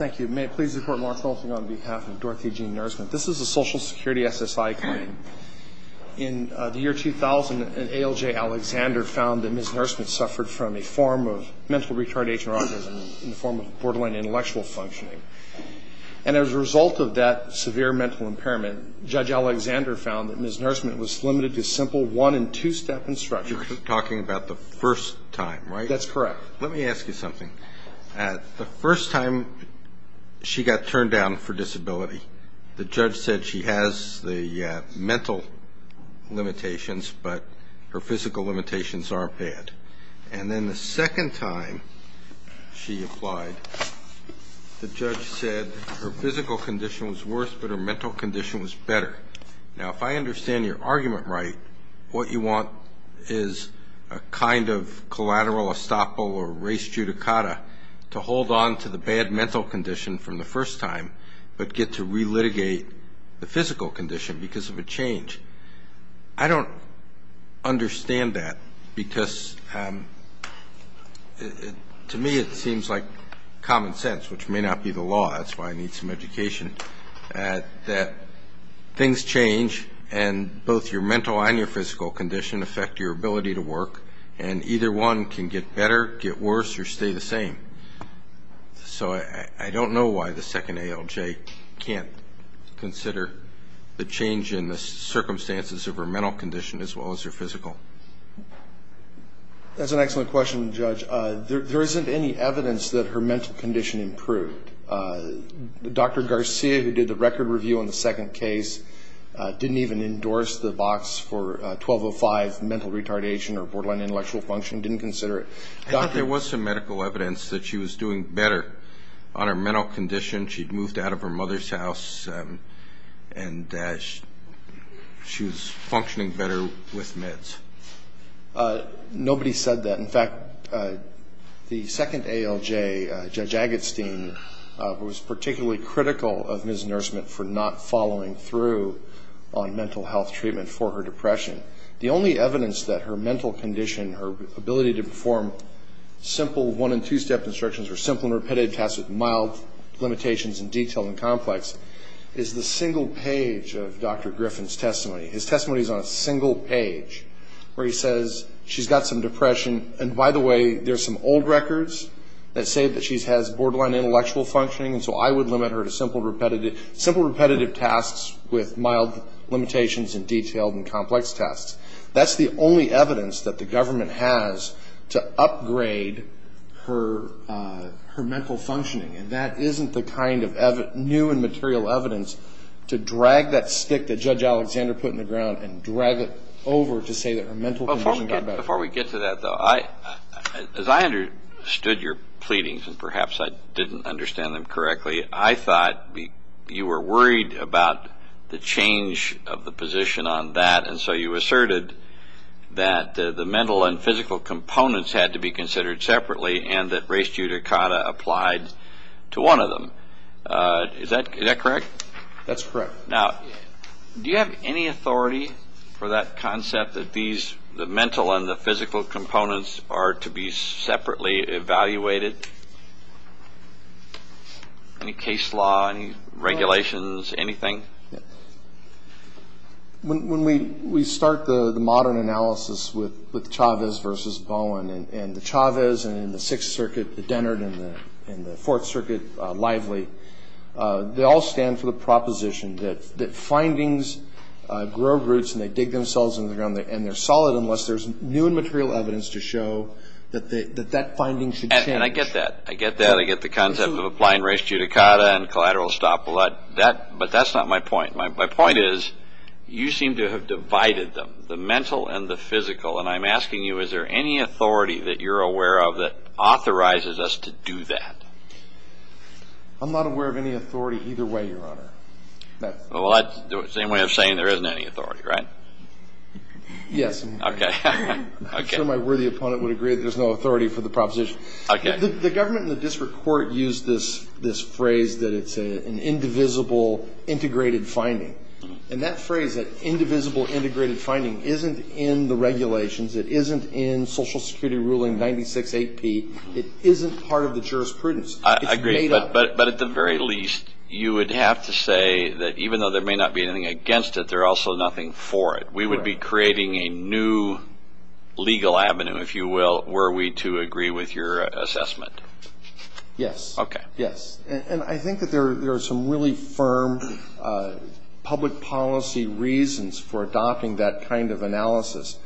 Thank you. May it please the Court, Mark Rolfing on behalf of Dorothy Jean Nursement. This is a Social Security SSI claim. In the year 2000, an ALJ Alexander found that Ms. Nursement suffered from a form of mental retardation or autism in the form of borderline intellectual functioning. And as a result of that severe mental impairment, Judge Alexander found that Ms. Nursement was limited to simple one- and two-step instruction. You're talking about the first time, right? That's correct. Let me ask you something. The first time she got turned down for disability, the judge said she has the mental limitations but her physical limitations aren't bad. And then the second time she applied, the judge said her physical condition was worse but her mental condition was better. Now, if I understand your argument right, what you want is a kind of collateral estoppel or res judicata to hold on to the bad mental condition from the first time but get to relitigate the physical condition because of a change. I don't understand that because to me it seems like common sense, which may not be the law, that's why I need some education, that things change and both your mental and your physical condition affect your ability to work and either one can get better, get worse, or stay the same. So I don't know why the second ALJ can't consider the change in the circumstances of her mental condition as well as her physical. That's an excellent question, Judge. There isn't any evidence that her mental condition improved. Dr. Garcia, who did the record review on the second case, didn't even endorse the box for 1205 mental retardation or borderline intellectual function, didn't consider it. There was some medical evidence that she was doing better on her mental condition. She'd moved out of her mother's house and she was functioning better with meds. Nobody said that. In fact, the second ALJ, Judge Agatstein, was particularly critical of Ms. Nurseman for not following through on mental health treatment for her depression. The only evidence that her mental condition, her ability to perform simple one- and two-step instructions or simple and repetitive tasks with mild limitations and detail and complex is the single page of Dr. Griffin's testimony. His testimony is on a single page where he says she's got some depression, and by the way, there's some old records that say that she has borderline intellectual functioning, and so I would limit her to simple repetitive tasks with mild limitations and detailed and complex tasks. That's the only evidence that the government has to upgrade her mental functioning, and that isn't the kind of new and material evidence to drag that stick that Judge Alexander put in the ground and drag it over to say that her mental condition got better. Before we get to that, though, as I understood your pleadings, and perhaps I didn't understand them correctly, I thought you were worried about the change of the position on that, and so you asserted that the mental and physical components had to be considered separately and that res judicata applied to one of them. Is that correct? That's correct. Now, do you have any authority for that concept that these, the mental and the physical components, are to be separately evaluated? Any case law, any regulations, anything? When we start the modern analysis with Chavez versus Bowen, and the Chavez and the Sixth Circuit, the Dennard and the Fourth Circuit, Lively, they all stand for the proposition that findings grow roots and they dig themselves in the ground and they're solid unless there's new and material evidence to show that that finding should change. And I get that. I get that. I get the concept of applying res judicata and collateral estoppel. But that's not my point. My point is you seem to have divided them, the mental and the physical, and I'm asking you is there any authority that you're aware of that authorizes us to do that? I'm not aware of any authority either way, Your Honor. Well, that's the same way of saying there isn't any authority, right? Yes. Okay. I'm sure my worthy opponent would agree that there's no authority for the proposition. Okay. The government and the district court used this phrase that it's an indivisible integrated finding. And that phrase, that indivisible integrated finding, isn't in the regulations. It isn't in Social Security ruling 96-8-P. It isn't part of the jurisprudence. I agree. It's made up. But at the very least, you would have to say that even though there may not be anything against it, there's also nothing for it. We would be creating a new legal avenue, if you will, were we to agree with your assessment. Yes. Okay. Yes. And I think that there are some really firm public policy reasons for adopting that kind of analysis.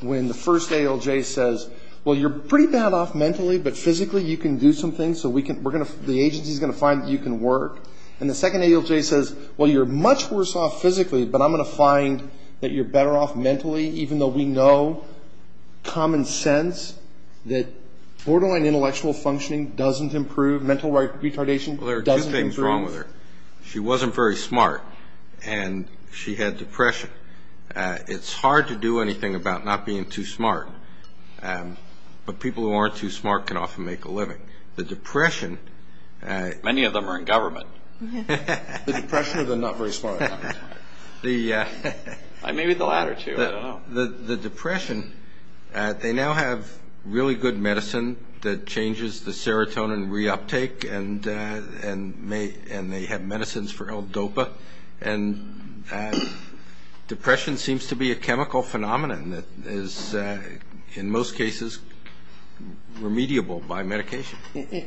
When the first ALJ says, well, you're pretty bad off mentally, but physically you can do some things, so the agency is going to find that you can work. And the second ALJ says, well, you're much worse off physically, but I'm going to find that you're better off mentally, even though we know common sense, that borderline intellectual functioning doesn't improve, mental retardation doesn't improve. Well, there are two things wrong with her. She wasn't very smart, and she had depression. It's hard to do anything about not being too smart, but people who aren't too smart can often make a living. Many of them are in government. The depression or the not very smart? Maybe the latter two. I don't know. The depression, they now have really good medicine that changes the serotonin reuptake, and they have medicines for L-DOPA. And depression seems to be a chemical phenomenon that is, in most cases, remediable by medication.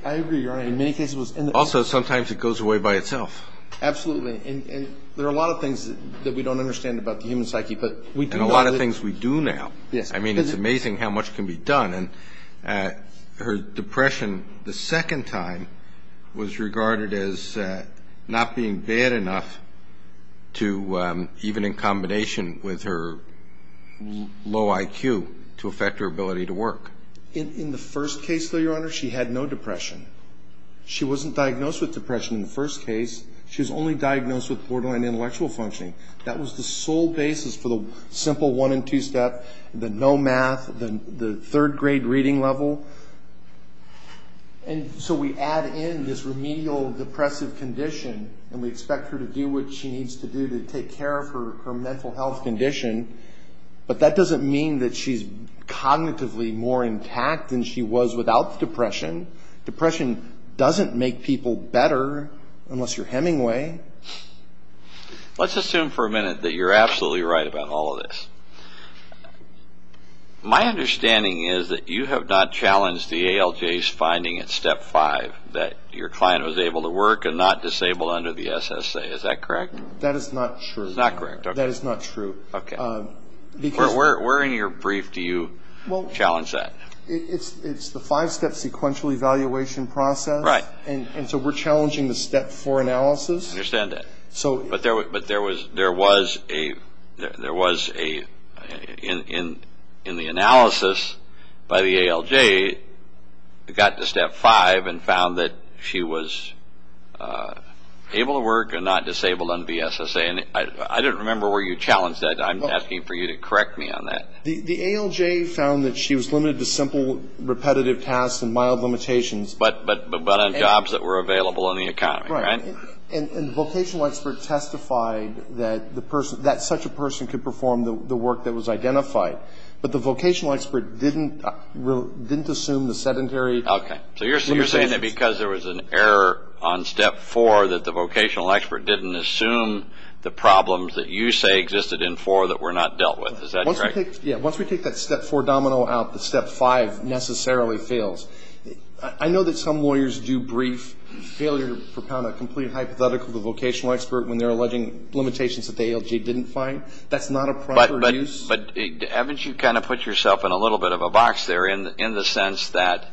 I agree, Your Honor. In many cases it was. Also, sometimes it goes away by itself. Absolutely. And there are a lot of things that we don't understand about the human psyche, but we do now. And a lot of things we do now. Yes. I mean, it's amazing how much can be done. And her depression the second time was regarded as not being bad enough to, even in combination with her low IQ, to affect her ability to work. In the first case, though, Your Honor, she had no depression. She wasn't diagnosed with depression in the first case. She was only diagnosed with borderline intellectual functioning. That was the sole basis for the simple one and two step, the no math, the third grade reading level. And so we add in this remedial depressive condition, and we expect her to do what she needs to do to take care of her mental health condition. But that doesn't mean that she's cognitively more intact than she was without the depression. Depression doesn't make people better unless you're Hemingway. Let's assume for a minute that you're absolutely right about all of this. My understanding is that you have not challenged the ALJ's finding at step five, that your client was able to work and not disabled under the SSA. Is that correct? That is not true. It's not correct. That is not true. Okay. Where in your brief do you challenge that? It's the five step sequential evaluation process. Right. And so we're challenging the step four analysis. I understand that. But there was a, in the analysis by the ALJ, got to step five and found that she was able to work and not disabled under the SSA. I don't remember where you challenged that. I'm asking for you to correct me on that. The ALJ found that she was limited to simple repetitive tasks and mild limitations. But on jobs that were available in the economy, right? Right. And the vocational expert testified that such a person could perform the work that was identified. But the vocational expert didn't assume the sedentary. Okay. So you're saying that because there was an error on step four, that the vocational expert didn't assume the problems that you say existed in four that were not dealt with. Is that correct? Yeah. Once we take that step four domino out, the step five necessarily fails. I know that some lawyers do brief failure to propound a complete hypothetical to the vocational expert when they're alleging limitations that the ALJ didn't find. That's not a proper use. But haven't you kind of put yourself in a little bit of a box there in the sense that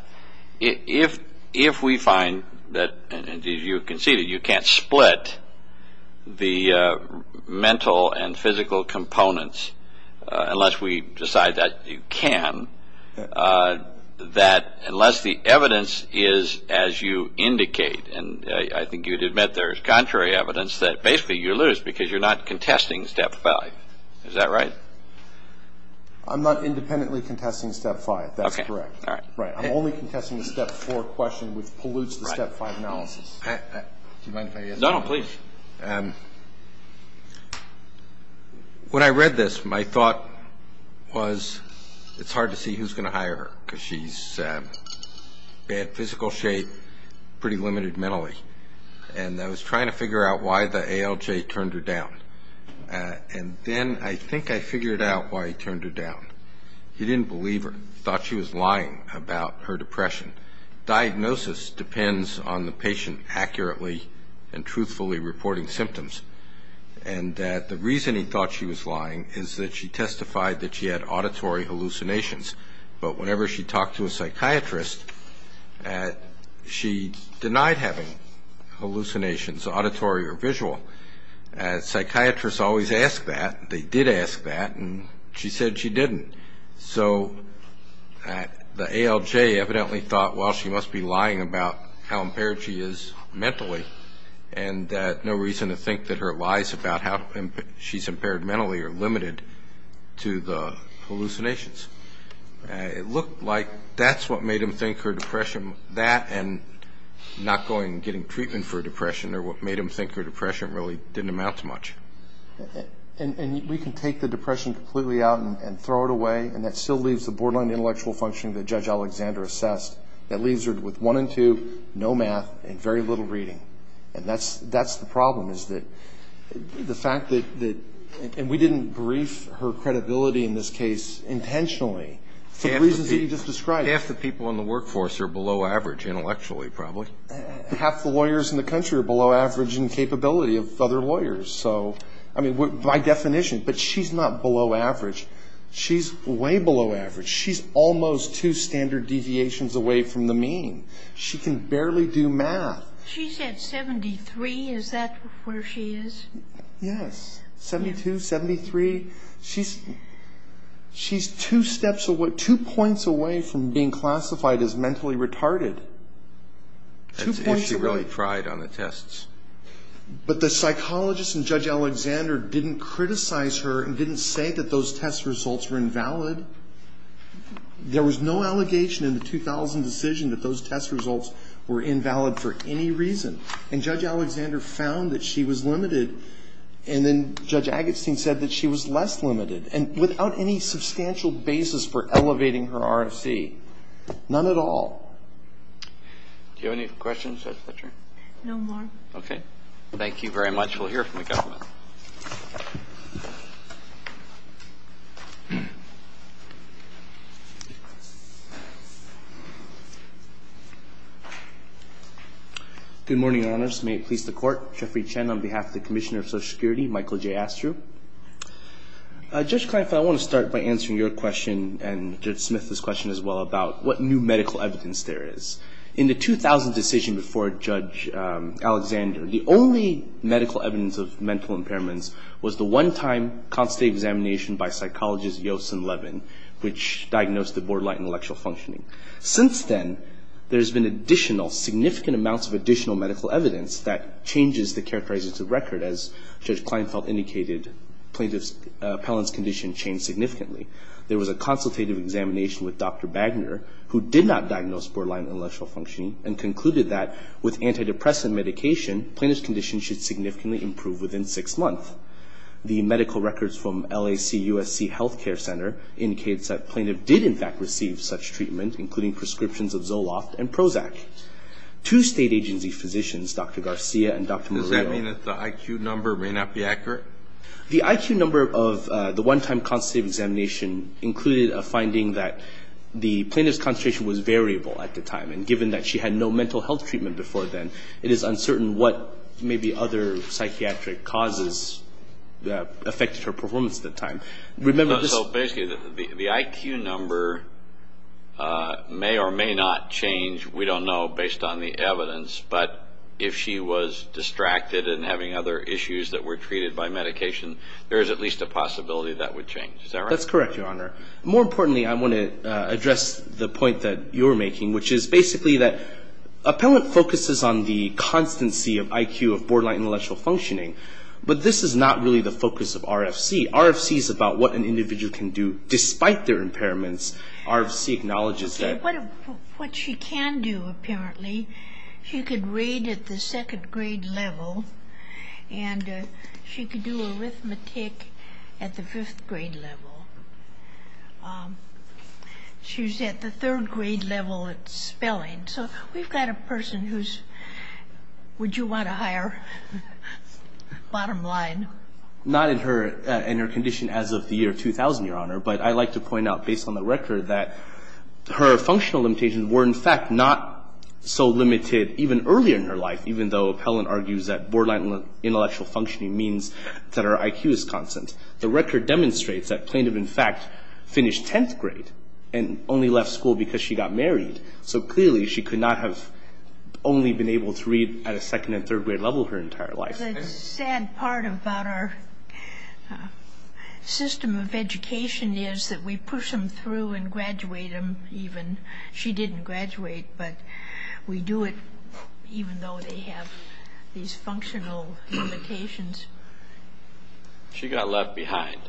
if we find that, and you can see that you can't split the mental and physical components unless we decide that you can, that unless the evidence is as you indicate, and I think you'd admit there's contrary evidence that basically you lose because you're not contesting step five. Is that right? I'm not independently contesting step five. That's correct. All right. I'm only contesting the step four question, which pollutes the step five analysis. Do you mind if I answer that? No, no, please. When I read this, my thought was it's hard to see who's going to hire her because she's in bad physical shape, pretty limited mentally. And I was trying to figure out why the ALJ turned her down. And then I think I figured out why he turned her down. He didn't believe her. He thought she was lying about her depression. Diagnosis depends on the patient accurately and truthfully reporting symptoms. And the reason he thought she was lying is that she testified that she had auditory hallucinations. But whenever she talked to a psychiatrist, she denied having hallucinations, auditory or visual. Psychiatrists always ask that. They did ask that, and she said she didn't. So the ALJ evidently thought, well, she must be lying about how impaired she is mentally and no reason to think that her lies about how she's impaired mentally are limited to the hallucinations. It looked like that's what made him think her depression, that and not going and getting treatment for depression are what made him think her depression really didn't amount to much. And we can take the depression completely out and throw it away, and that still leaves the borderline intellectual functioning that Judge Alexander assessed. That leaves her with one and two, no math, and very little reading. And that's the problem is that the fact that we didn't brief her credibility in this case intentionally for the reasons that you just described. Half the people in the workforce are below average intellectually probably. Half the lawyers in the country are below average in capability of other lawyers. So, I mean, by definition. But she's not below average. She's way below average. She's almost two standard deviations away from the mean. She can barely do math. She's at 73. Is that where she is? Yes. 72, 73. She's two steps away, two points away from being classified as mentally retarded. Two points away. If she really pried on the tests. But the psychologist and Judge Alexander didn't criticize her and didn't say that those test results were invalid. There was no allegation in the 2000 decision that those test results were invalid for any reason. And Judge Alexander found that she was limited, and then Judge Agatstein said that she was less limited. And without any substantial basis for elevating her RFC. None at all. Do you have any questions, Judge Fletcher? No more. Okay. Thank you very much. We'll hear from the government. Good morning, Your Honors. May it please the Court. Jeffrey Chen on behalf of the Commissioner of Social Security. Michael J. Astru. Judge Kleinfeld, I want to start by answering your question, and Judge Smith's question as well, about what new medical evidence there is. In the 2000 decision before Judge Alexander, the only medical evidence of mental impairments was the one-time constate examination by psychologists Yost and Levin, which diagnosed the borderline intellectual functioning. Since then, there's been additional, significant amounts of additional medical evidence that changes the characteristics of record. As Judge Kleinfeld indicated, plaintiff's appellant's condition changed significantly. There was a consultative examination with Dr. Bagner, who did not diagnose borderline intellectual functioning, and concluded that with antidepressant medication, plaintiff's condition should significantly improve within six months. The medical records from LAC-USC Health Care Center indicates that plaintiff did, in fact, receive such treatment, including prescriptions of Zoloft and Prozac. Two state agency physicians, Dr. Garcia and Dr. Morillo... Does that mean that the IQ number may not be accurate? The IQ number of the one-time constative examination included a finding that the plaintiff's concentration was variable at the time, and given that she had no mental health treatment before then, it is uncertain what maybe other psychiatric causes affected her performance at the time. So basically, the IQ number may or may not change. We don't know based on the evidence, but if she was distracted and having other issues that were treated by medication, there is at least a possibility that would change. Is that right? That's correct, Your Honor. More importantly, I want to address the point that you're making, which is basically that appellant focuses on the constancy of IQ of borderline intellectual functioning, but this is not really the focus of RFC. RFC is about what an individual can do despite their impairments. RFC acknowledges that... What she can do, apparently, she can read at the second-grade level, and she can do arithmetic at the fifth-grade level. She's at the third-grade level at spelling. So we've got a person who's... Would you want to hire? Bottom line. Not in her condition as of the year 2000, Your Honor, but I'd like to point out, based on the record, that her functional limitations were, in fact, not so limited even earlier in her life, even though appellant argues that borderline intellectual functioning means that her IQ is constant. The record demonstrates that plaintiff, in fact, finished 10th grade and only left school because she got married, so clearly she could not have only been able to read at a second- and third-grade level her entire life. The sad part about our system of education is that we push them through and graduate them even. She didn't graduate, but we do it even though they have these functional limitations. She got left behind.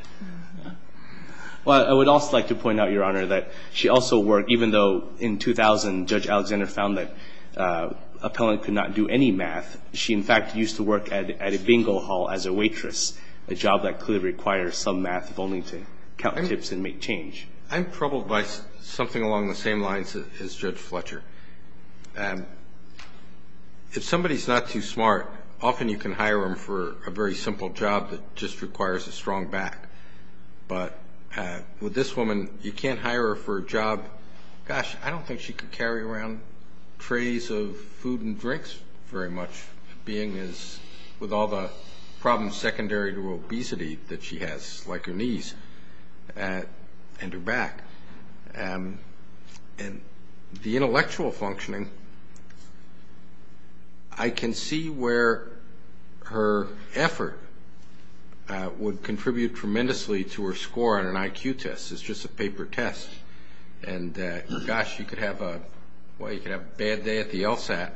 Well, I would also like to point out, Your Honor, that she also worked... Even though in 2000 Judge Alexander found that appellant could not do any math, she, in fact, used to work at a bingo hall as a waitress, a job that clearly requires some math if only to count tips and make change. I'm troubled by something along the same lines as Judge Fletcher. If somebody is not too smart, often you can hire them for a very simple job that just requires a strong back. But with this woman, you can't hire her for a job... with all the problems secondary to obesity that she has, like her knees and her back. And the intellectual functioning, I can see where her effort would contribute tremendously to her score on an IQ test. It's just a paper test. And, gosh, you could have a bad day at the LSAT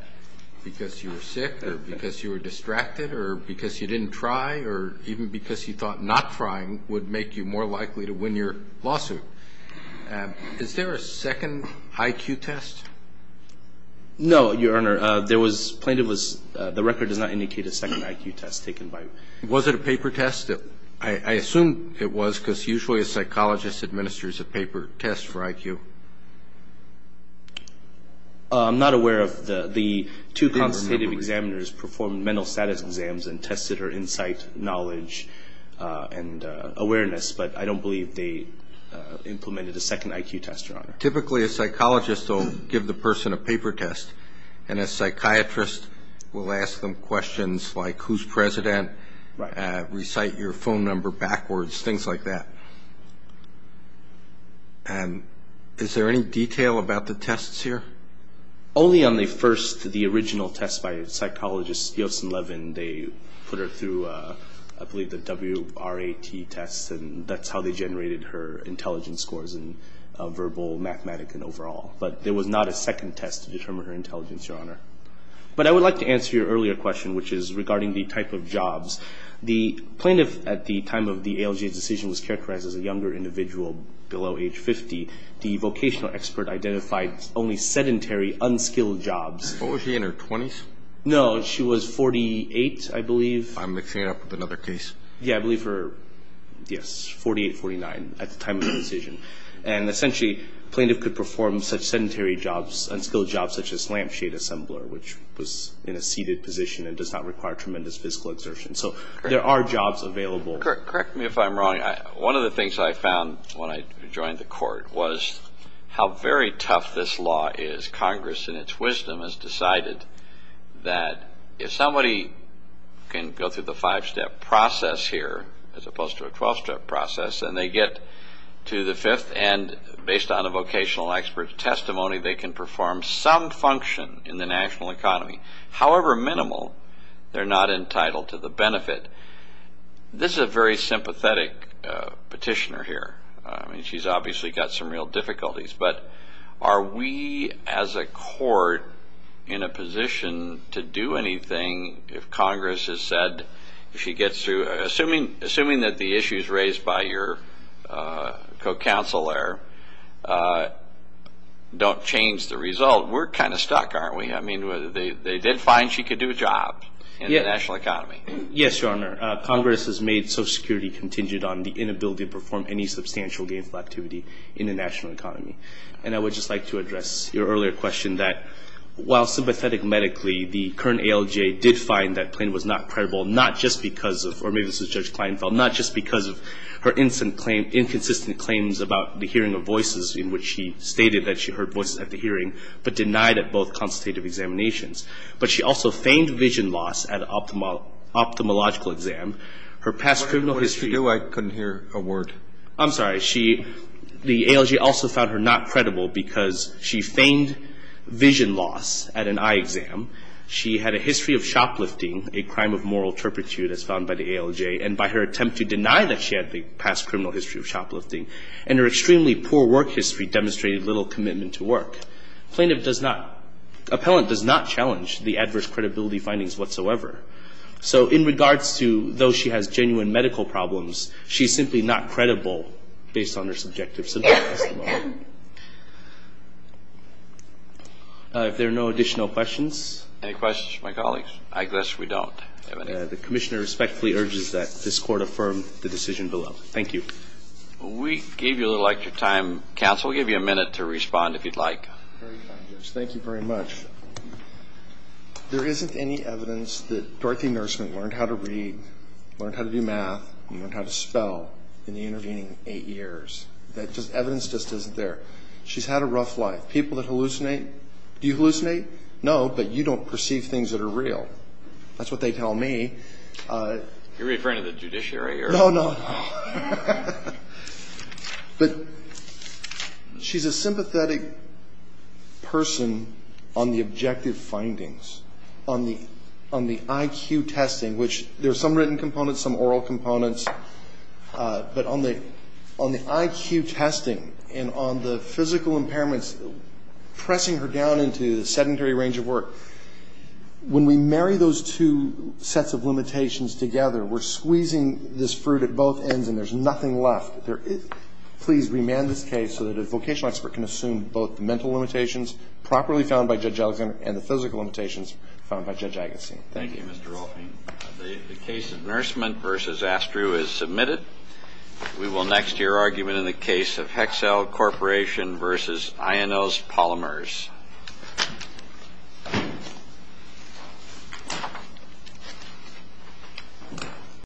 because you were sick or because you were distracted or because you didn't try or even because you thought not trying would make you more likely to win your lawsuit. Is there a second IQ test? No, Your Honor. The record does not indicate a second IQ test taken by... Was it a paper test? I assume it was because usually a psychologist administers a paper test for IQ. I'm not aware of the two consultative examiners performed mental status exams and tested her insight, knowledge and awareness, but I don't believe they implemented a second IQ test, Your Honor. Typically a psychologist will give the person a paper test and a psychiatrist will ask them questions like, who's president, recite your phone number backwards, things like that. And is there any detail about the tests here? Only on the first, the original test by psychologist Yoson Levin, they put her through, I believe, the WRAT test, and that's how they generated her intelligence scores in verbal, mathematic and overall. But there was not a second test to determine her intelligence, Your Honor. But I would like to answer your earlier question, which is regarding the type of jobs. The plaintiff, at the time of the ALJ's decision, was characterized as a younger individual below age 50. The vocational expert identified only sedentary, unskilled jobs. What was she, in her 20s? No, she was 48, I believe. I'm mixing it up with another case. Yeah, I believe her, yes, 48, 49 at the time of the decision. And essentially, a plaintiff could perform such sedentary jobs, unskilled jobs, such as lampshade assembler, which was in a seated position and does not require tremendous physical exertion. So there are jobs available. Correct me if I'm wrong. One of the things I found when I joined the court was how very tough this law is. Congress, in its wisdom, has decided that if somebody can go through the five-step process here, as opposed to a 12-step process, and they get to the fifth, and based on a vocational expert's testimony, they can perform some function in the national economy. However minimal, they're not entitled to the benefit. This is a very sympathetic petitioner here. I mean, she's obviously got some real difficulties. But are we, as a court, in a position to do anything if Congress has said, if she gets through, assuming that the issues raised by your co-counsel there don't change the result, we're kind of stuck, aren't we? I mean, they did find she could do a job in the national economy. Yes, Your Honor. Congress has made Social Security contingent on the inability to perform any substantial gainful activity in the national economy. And I would just like to address your earlier question that, while sympathetic medically, the current ALGA did find that plaintiff was not credible, not just because of, or maybe this was Judge Kleinfeld, not just because of her inconsistent claims about the hearing of voices, in which she stated that she heard voices at the hearing, but denied at both consultative examinations. But she also feigned vision loss at an ophthalmological exam. Her past criminal history. What did she do? I couldn't hear a word. I'm sorry. The ALGA also found her not credible because she feigned vision loss at an eye exam. She had a history of shoplifting, a crime of moral turpitude as found by the ALGA, and by her attempt to deny that she had the past criminal history of shoplifting and her extremely poor work history demonstrated little commitment to work. Plaintiff does not, appellant does not challenge the adverse credibility findings whatsoever. So in regards to, though she has genuine medical problems, she's simply not credible based on her subjective symptomatology. If there are no additional questions. Any questions from my colleagues? I guess we don't. The Commissioner respectfully urges that this Court affirm the decision below. Thank you. We gave you a little extra time. Counsel, we'll give you a minute to respond if you'd like. Thank you very much. There isn't any evidence that Dorothy Nurseman learned how to read, learned how to do math, and learned how to spell in the intervening eight years. Evidence just isn't there. She's had a rough life. People that hallucinate, do you hallucinate? No, but you don't perceive things that are real. That's what they tell me. You're referring to the judiciary here? No, no. But she's a sympathetic person on the objective findings, on the IQ testing, which there are some written components, some oral components, but on the IQ testing and on the physical impairments, pressing her down into the sedentary range of work. When we marry those two sets of limitations together, we're squeezing this fruit at both ends and there's nothing left. Please remand this case so that a vocational expert can assume both the mental limitations properly found by Judge Alexander and the physical limitations found by Judge Agassi. Thank you. Thank you, Mr. Rolfing. The case of Nurseman v. Astru is submitted. We will next hear argument in the case of Hexel Corporation v. Ionos Polymers.